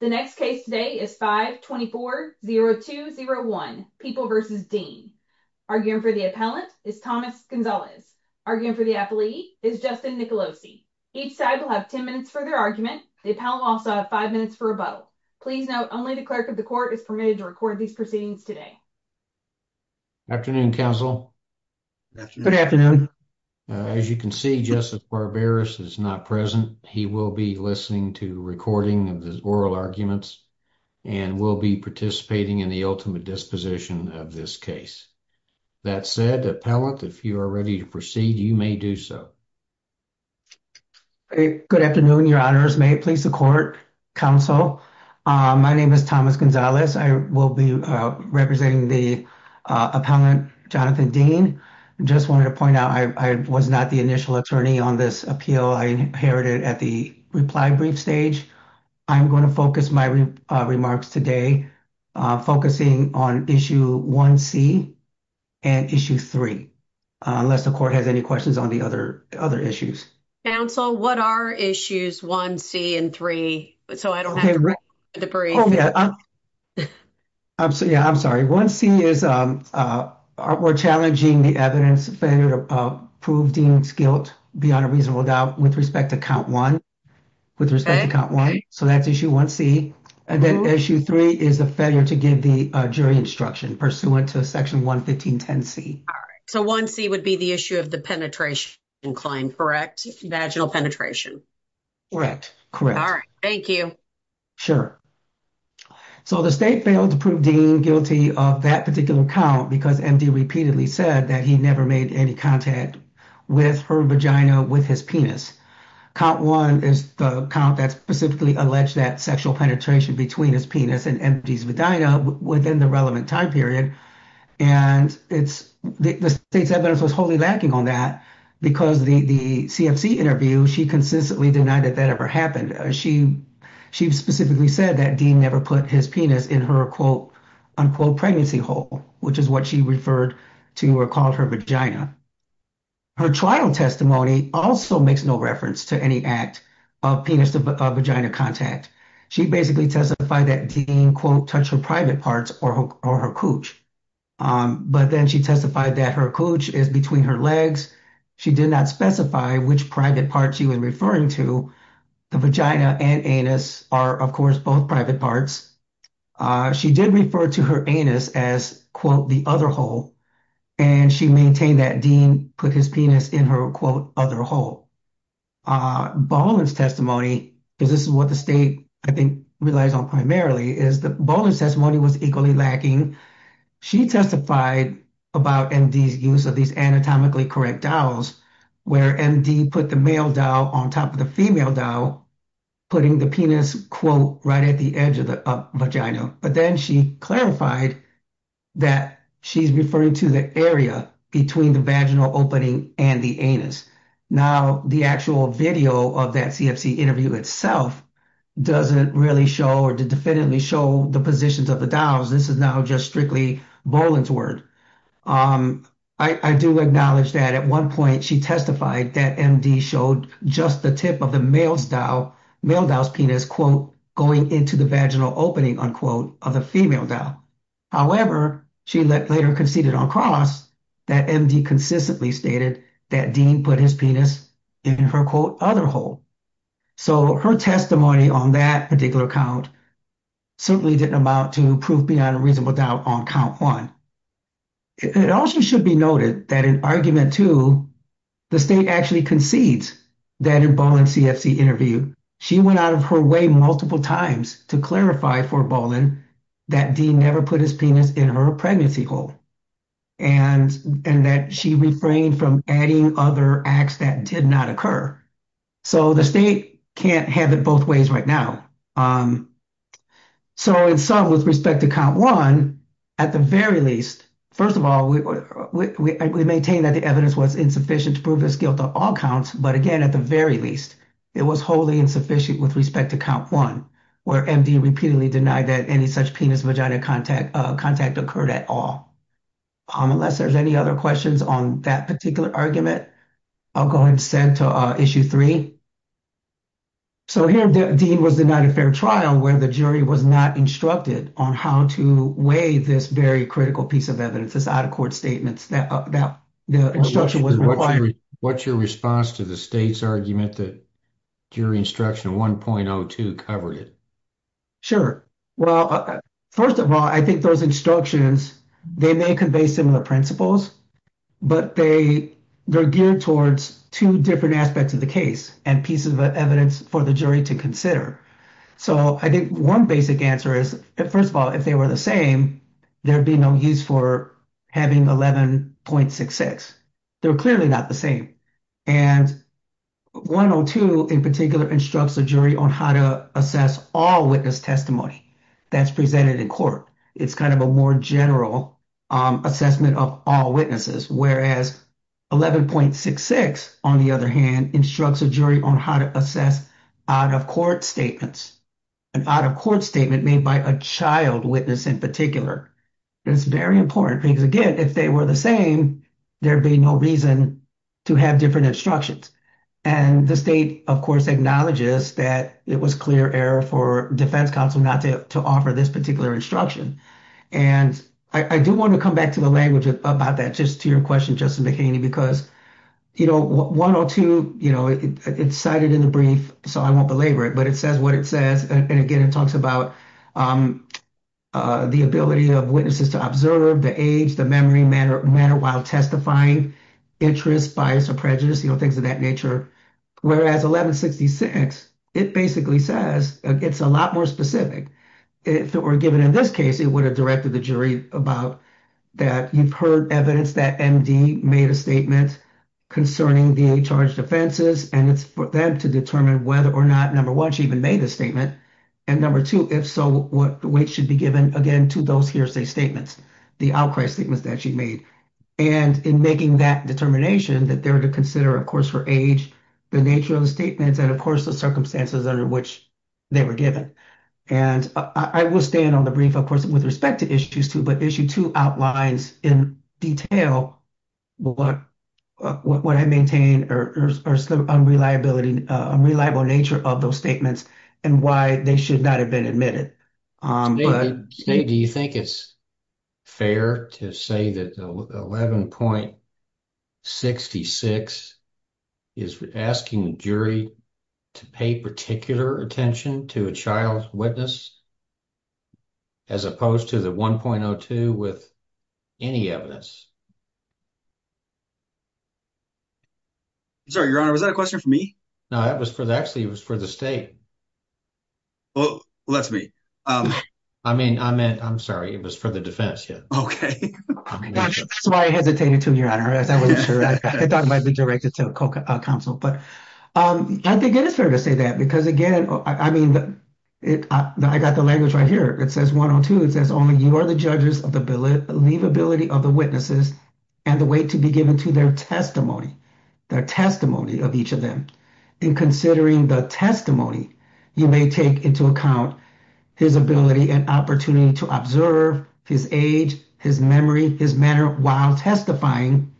The next case today is 5-24-0201, People v. Dean. Arguing for the appellant is Thomas Gonzalez. Arguing for the appellee is Justin Nicolosi. Each side will have 10 minutes for their argument. The appellant will also have 5 minutes for a vote. Please note, only the clerk of the court is permitted to record these proceedings today. Afternoon, counsel. Good afternoon. As you can see, Justice Barberis is not present. He will be listening to recording of the oral arguments and will be participating in the ultimate disposition of this case. That said, appellant, if you are ready to proceed, you may do so. Good afternoon, your honors. May it please the court, counsel. My name is Thomas Gonzalez. I will be representing the appellant, Jonathan Dean. I just wanted to point out, I was not the initial attorney on this appeal. I inherited at the reply brief stage. I'm going to focus my remarks today focusing on issue 1C and issue 3, unless the court has any questions on the other issues. Counsel, what are issues 1C and 3? So I don't have to read the brief. I'm sorry. 1C is we're challenging the evidence failure to prove Dean's guilt beyond a reasonable doubt with respect to count 1. So that's issue 1C. And then issue 3 is a failure to give the jury instruction pursuant to section 11510C. So 1C would be the issue of the penetration incline, correct? Vaginal penetration. All right. Thank you. Sure. So the state failed to prove Dean guilty of that particular count because MD repeatedly said that he never made any contact with her vagina with his penis. Count 1 is the count that specifically alleged that sexual penetration between his penis and MD's vagina within the relevant time period. And the state's evidence was wholly lacking on that because the CFC interview, she consistently denied that that ever happened. She specifically said that Dean never put his penis in her, quote, unquote, pregnancy hole, which is what she referred to or called her vagina. Her trial testimony also makes no reference to any act of penis to vagina contact. She basically testified that Dean, quote, touched her private parts or her cooch. But then she testified that her cooch is between her legs. She did not specify which private parts she was referring to. The vagina and anus are, of course, both private parts. She did refer to her anus as, quote, the other hole. And she maintained that Dean put his penis in her, quote, other hole. Baldwin's testimony, because this is what the state, I think, relies on primarily, is that Baldwin's testimony was equally lacking. She testified about MD's use of these anatomically correct dowels, where MD put the male dowel on top of the female dowel, putting the penis, quote, right at the edge of the vagina. But then she clarified that she's referring to the area between the vaginal opening and the anus. Now, the actual video of that CFC interview itself doesn't really show or definitively show the positions of the dowels. This is now just strictly Baldwin's word. I do acknowledge that at one point she testified that MD showed just the tip of the male dowel, male dowel's penis, quote, going into the vaginal opening, unquote, of the female dowel. However, she later conceded on cross that MD consistently stated that Dean put his penis in her, quote, other hole. So her testimony on that particular account certainly didn't amount to proof beyond a reasonable doubt on count one. It also should be noted that in argument two, the state actually concedes that in Baldwin's CFC interview, she went out of her way multiple times to clarify for Baldwin that Dean never put his penis in her pregnancy hole and that she refrained from adding other acts that did not occur. So the state can't have it both ways right now. So in sum, with respect to count one, at the very least, first of all, we maintain that the evidence was insufficient to prove his guilt on all counts. But again, at the very least, it was wholly insufficient with respect to count one, where MD repeatedly denied that any such penis vagina contact contact occurred at all. Unless there's any other questions on that particular argument, I'll go ahead and send to issue three. So here, Dean was denied a fair trial where the jury was not instructed on how to weigh this very critical piece of evidence, this out of court statements that the instruction was required. What's your response to the state's argument that jury instruction 1.02 covered it? Sure. Well, first of all, I think those instructions, they may convey similar principles, but they they're geared towards two different aspects of the case and pieces of evidence for the jury to consider. So I think one basic answer is, first of all, if they were the same, there'd be no use for having 11.66. They're clearly not the same. And 1.02, in particular, instructs the jury on how to assess all witness testimony that's presented in court. It's kind of a more general assessment of all witnesses, whereas 11.66, on the other hand, instructs a jury on how to assess out of court statements and out of court statement made by a child witness in particular. It's very important because, again, if they were the same, there'd be no reason to have different instructions. And the state, of course, acknowledges that it was clear error for defense counsel not to offer this particular instruction. And I do want to come back to the language about that, just to your question, Justin McHaney, because, you know, 1.02, you know, it's cited in the brief, so I won't belabor it, but it says what it says. And again, it talks about the ability of witnesses to observe the age, the memory, manner, while testifying, interest, bias or prejudice, you know, things of that nature. Whereas 11.66, it basically says it's a lot more specific. If it were given in this case, it would have directed the jury about that. You've heard evidence that MD made a statement concerning the charge defenses, and it's for them to determine whether or not, number one, she even made the statement. And number two, if so, what weight should be given again to those hearsay statements, the outcry statements that she made. And in making that determination, that they're to consider, of course, her age, the nature of the statements, and, of course, the circumstances under which they were given. And I will stay in on the brief, of course, with respect to issues two, but issue two outlines in detail what I maintain or the unreliability, unreliable nature of those statements and why they should not have been admitted. Steve, do you think it's fair to say that 11.66 is asking the jury to pay particular attention to a child's witness, as opposed to the 1.02 with any evidence? Sorry, Your Honor, was that a question for me? No, that was for the actually it was for the state. Well, let's be, I mean, I meant, I'm sorry. It was for the defense. Yeah. So I hesitated to, Your Honor, as I wasn't sure. I thought it might be directed to a co-counsel. But I think it is fair to say that because, again, I mean, I got the language right here. It says 1.02. It says only you are the judges of the believability of the witnesses and the weight to be given to their testimony, their testimony of each of them. In considering the testimony, you may take into account his ability and opportunity to observe his age, his memory, his manner while testifying,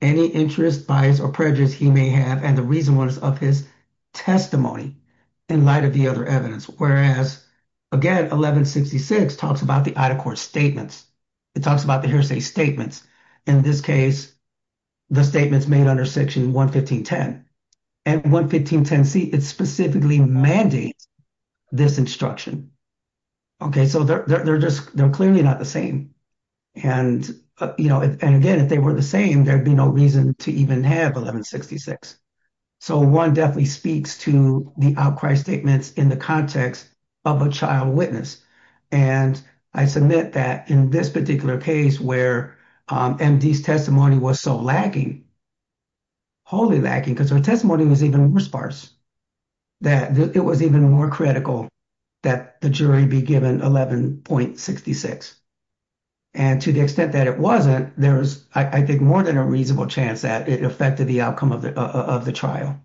any interest, bias or prejudice he may have, and the reasonableness of his testimony in light of the other evidence. Whereas, again, 11.66 talks about the Ida court statements. It talks about the hearsay statements. In this case, the statements made under Section 115.10. And 115.10c, it specifically mandates this instruction. Okay, so they're just, they're clearly not the same. And, you know, and again, if they were the same, there'd be no reason to even have 11.66. So one definitely speaks to the outcry statements in the context of a child witness. And I submit that in this particular case where MD's testimony was so lacking, wholly lacking, because her testimony was even more sparse, that it was even more critical that the jury be given 11.66. And to the extent that it wasn't, there was, I think, more than a reasonable chance that it affected the outcome of the trial,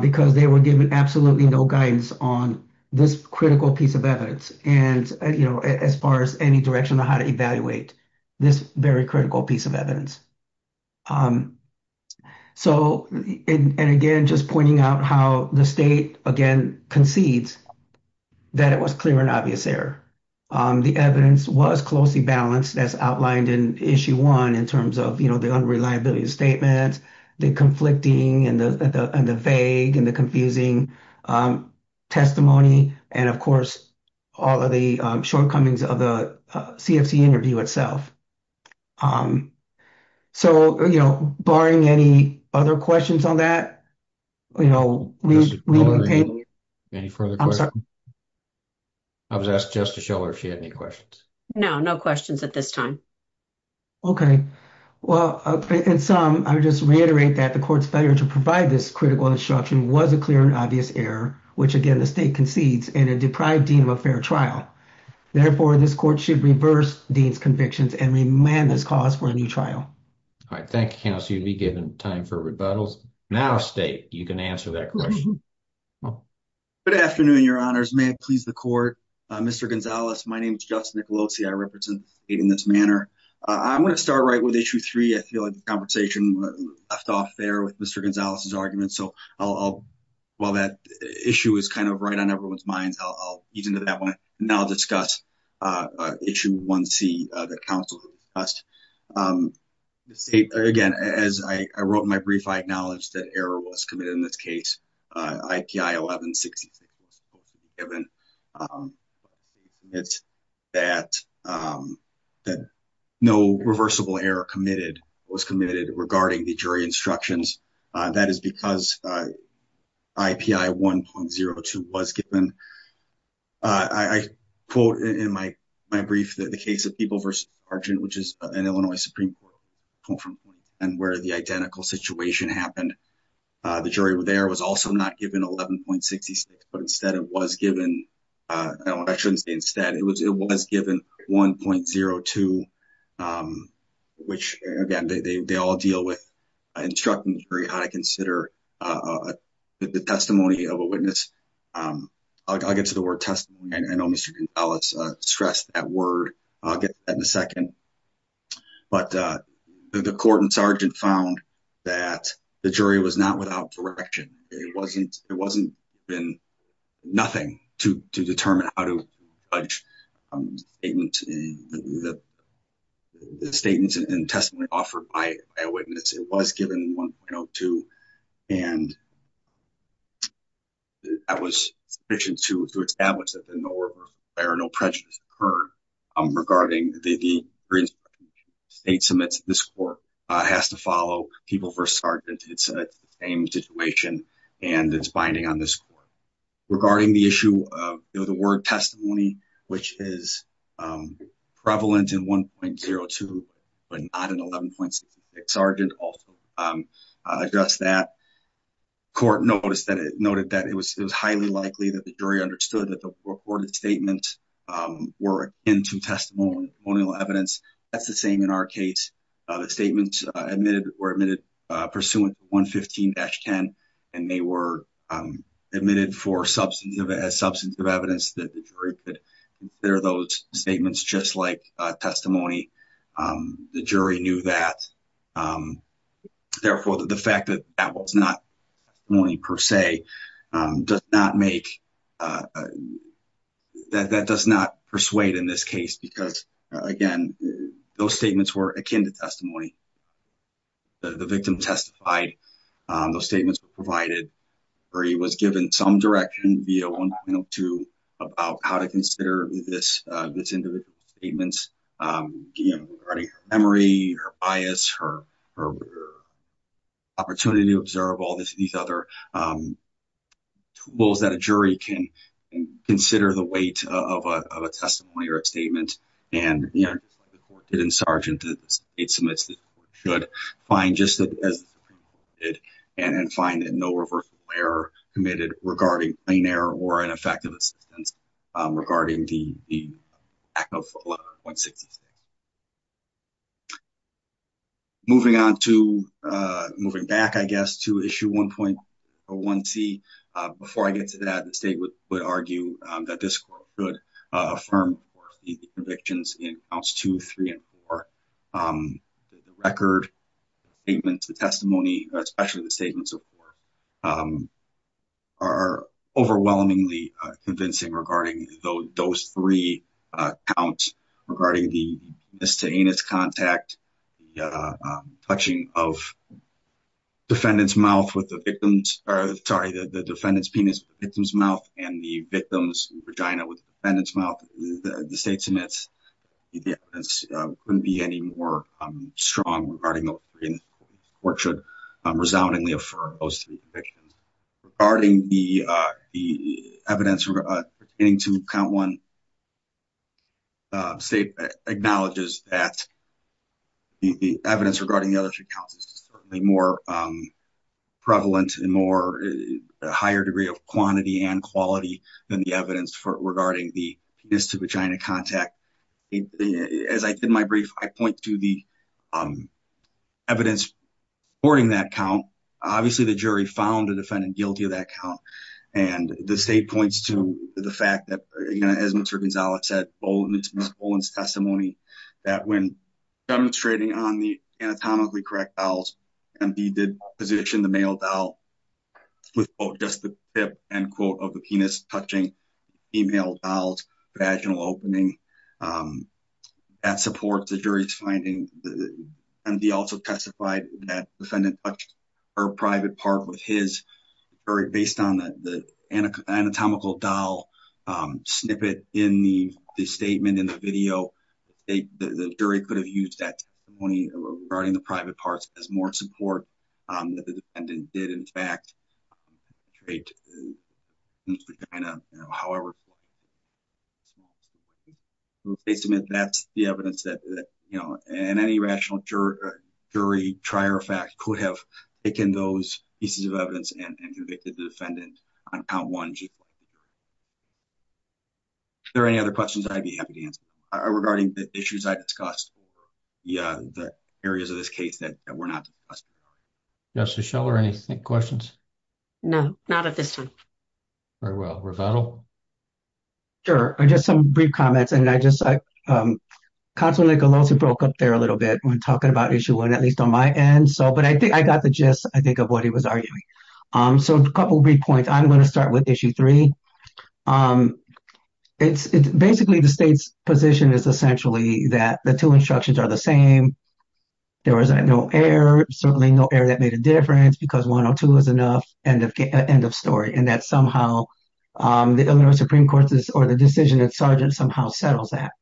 because they were given absolutely no guidance on this critical piece of evidence. And, you know, as far as any direction on how to evaluate this very critical piece of evidence. So, and again, just pointing out how the state, again, concedes that it was clear and obvious error. The evidence was closely balanced as outlined in Issue 1 in terms of, you know, the unreliability of statements, the conflicting and the vague and the confusing testimony. And, of course, all of the shortcomings of the CFC interview itself. So, you know, barring any other questions on that, you know. Any further questions? I was asked just to show her if she had any questions. No, no questions at this time. Okay. Well, in sum, I would just reiterate that the court's failure to provide this critical instruction was a clear and obvious error, which, again, the state concedes in a deprived dean of a fair trial. Therefore, this court should reverse dean's convictions and remand this cause for a new trial. All right, thank you, counsel. You'll be given time for rebuttals. Now, state, you can answer that question. Good afternoon, Your Honors. May it please the court. Mr. Gonzalez, my name is Justin Nicolosi. I represent the state in this manner. I'm going to start right with Issue 3. I feel like the conversation left off there with Mr. Gonzalez's argument. So, while that issue is kind of right on everyone's minds, I'll ease into that one. Now, I'll discuss Issue 1C that counsel discussed. Again, as I wrote in my brief, I acknowledge that error was committed in this case, IPI 1166. It's that no reversible error was committed regarding the jury instructions. That is because IPI 1.02 was given. I quote in my brief that the case of People v. Argent, which is an Illinois Supreme Court, and where the identical situation happened, the jury there was also not given 11.66, but instead it was given, I shouldn't say instead, it was given 1.02, which, again, they all deal with instructing the jury how to consider the testimony of a witness. I'll get to the word testimony. I know Mr. Gonzalez stressed that word. I'll get to that in a second. But the court and sergeant found that the jury was not without direction. It wasn't been nothing to determine how to judge the statements and testimony offered by a witness. It was given 1.02, and that was sufficient to establish that there are no prejudices occurred regarding the state summits. This court has to follow People v. Argent. It's the same situation, and it's binding on this court. Regarding the issue of the word testimony, which is prevalent in 1.02, but not in 11.66, sergeant also addressed that. The court noted that it was highly likely that the jury understood that the recorded statements were akin to testimonial evidence. That's the same in our case. The statements were admitted pursuant to 115-10, and they were admitted for substantive evidence that the jury could consider those statements just like testimony. The jury knew that. Therefore, the fact that that was not testimony per se, that does not persuade in this case because, again, those statements were akin to testimony. The victim testified. Those statements were provided, or he was given some direction via 1.02 about how to consider this individual's statements regarding her memory, her bias, her opportunity to observe, all these other tools that a jury can consider the weight of a testimony or a statement. Just like the court did in Sargent, the state submits, the court should find just as the Supreme Court did and find that no reversal of error committed regarding plain error or ineffective assistance regarding the act of 11.66. Moving on to, moving back, I guess, to issue 1.01c. Before I get to that, the state would argue that this court could affirm the convictions in counts 2, 3, and 4. The record, the statements, the testimony, especially the statements of 4, are overwhelmingly convincing regarding those 3 counts regarding the penis-to-anus contact, the touching of defendant's mouth with the victim's, sorry, the defendant's penis with the victim's mouth and the victim's vagina with the defendant's mouth. The state submits. The evidence wouldn't be any more strong regarding those 3 counts. The court should resoundingly affirm those 3 convictions. Regarding the evidence pertaining to count 1, the state acknowledges that the evidence regarding the other 3 counts is certainly more prevalent and more, a higher degree of quantity and quality than the evidence regarding the penis-to-vagina contact. As I did in my brief, I point to the evidence supporting that count. Obviously, the jury found the defendant guilty of that count. And the state points to the fact that, as Mr. Gonzalez said, in Mr. Boland's testimony, that when demonstrating on the anatomically correct dowels, MD did position the male dowel with, quote, just the tip, end quote, of the penis touching female dowels, vaginal opening. That supports the jury's finding. MD also testified that defendant touched her private part with his, based on the anatomical dowel snippet in the statement in the video, the jury could have used that testimony regarding the private parts as more support that the defendant did, in fact, state, however, that's the evidence that, you know, and any rational jury, jury, trier of fact could have taken those pieces of evidence and convicted the defendant on count 1. Are there any other questions? I'd be happy to answer. Regarding the issues I discussed, the areas of this case that were not discussed. Justice Schiller, any questions? No, not at this time. Very well. Revetal? Sure, just some brief comments. And I just, Constable Nicolosi broke up there a little bit when talking about Issue 1, at least on my end. But I think I got the gist, I think, of what he was arguing. So a couple brief points. I'm going to start with Issue 3. Basically, the state's position is essentially that the two instructions are the same. There was no error, certainly no error that made a difference because 102 was enough. End of story. And that somehow the Illinois Supreme Court's decision that Sargent somehow settles that.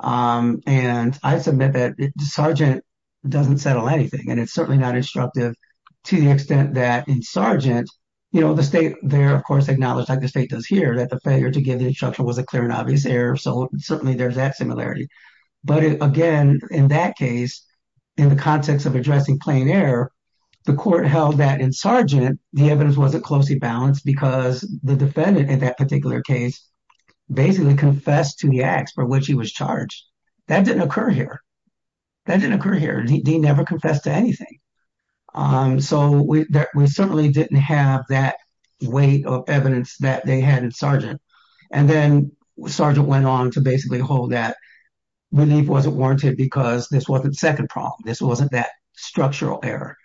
And I submit that Sargent doesn't settle anything. And it's certainly not instructive to the extent that in Sargent, you know, the state there, of course, acknowledged, like the state does here, that the failure to give the instruction was a clear and obvious error. So certainly there's that similarity. But, again, in that case, in the context of addressing plain error, the court held that in Sargent, the evidence wasn't closely balanced because the defendant in that particular case basically confessed to the acts for which he was charged. That didn't occur here. That didn't occur here. He never confessed to anything. So we certainly didn't have that weight of evidence that they had in Sargent. And then Sargent went on to basically hold that relief wasn't warranted because this wasn't the second problem. This wasn't that structural error.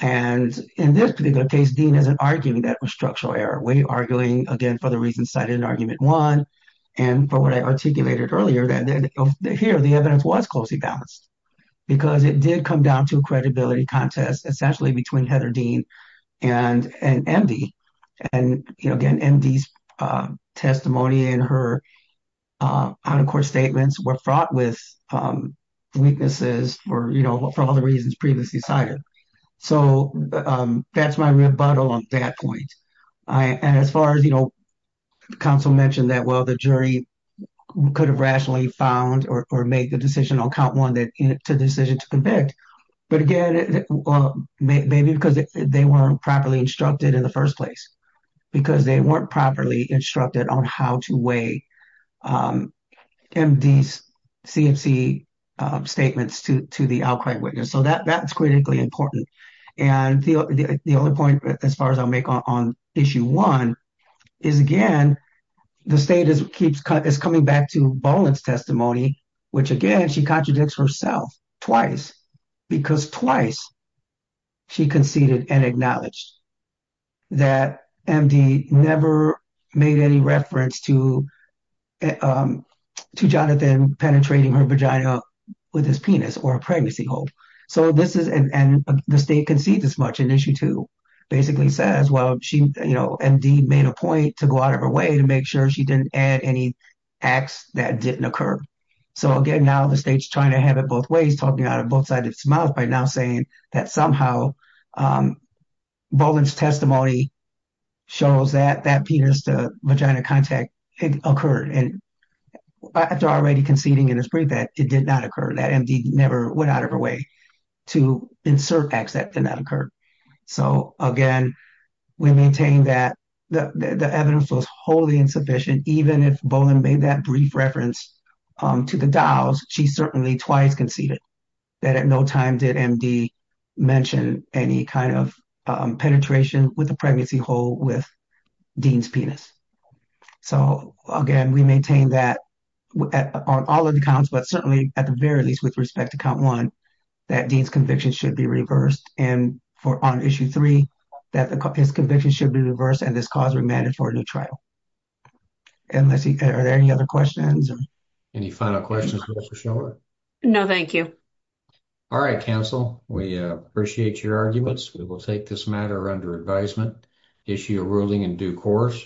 And in this particular case, Dean isn't arguing that it was structural error. We are arguing, again, for the reasons cited in Argument 1 and for what I articulated earlier, that here the evidence was closely balanced because it did come down to a credibility contest, essentially between Heather Dean and MD. And, again, MD's testimony and her out-of-court statements were fraught with weaknesses for all the reasons previously cited. So that's my rebuttal on that point. And as far as, you know, counsel mentioned that, well, the jury could have rationally found or made the decision on count one to decision to convict. But, again, maybe because they weren't properly instructed in the first place, because they weren't properly instructed on how to weigh MD's CFC statements to the outcry witness. So that's critically important. And the only point, as far as I'll make on Issue 1, is, again, the state is coming back to Boland's testimony, which, again, she contradicts herself twice because twice she conceded and acknowledged that MD never made any reference to Jonathan penetrating her vagina with his penis or a pregnancy hold. And the state concedes as much in Issue 2. Basically says, well, she, you know, MD made a point to go out of her way to make sure she didn't add any acts that didn't occur. So, again, now the state's trying to have it both ways, talking out of both sides of its mouth, by now saying that somehow Boland's testimony shows that that penis-to-vagina contact occurred. And after already conceding in his brief that it did not occur, that MD never went out of her way to insert acts that did not occur. So, again, we maintain that the evidence was wholly insufficient, even if Boland made that brief reference to the Dows. She certainly twice conceded that at no time did MD mention any kind of penetration with a pregnancy hold with Dean's penis. So, again, we maintain that on all of the counts, but certainly at the very least with respect to Count 1, that Dean's conviction should be reversed. And on Issue 3, that his conviction should be reversed and this cause remanded for a new trial. Are there any other questions? Any final questions for Ms. O'Shelley? No, thank you. All right, counsel, we appreciate your arguments. We will take this matter under advisement, issue a ruling in due course.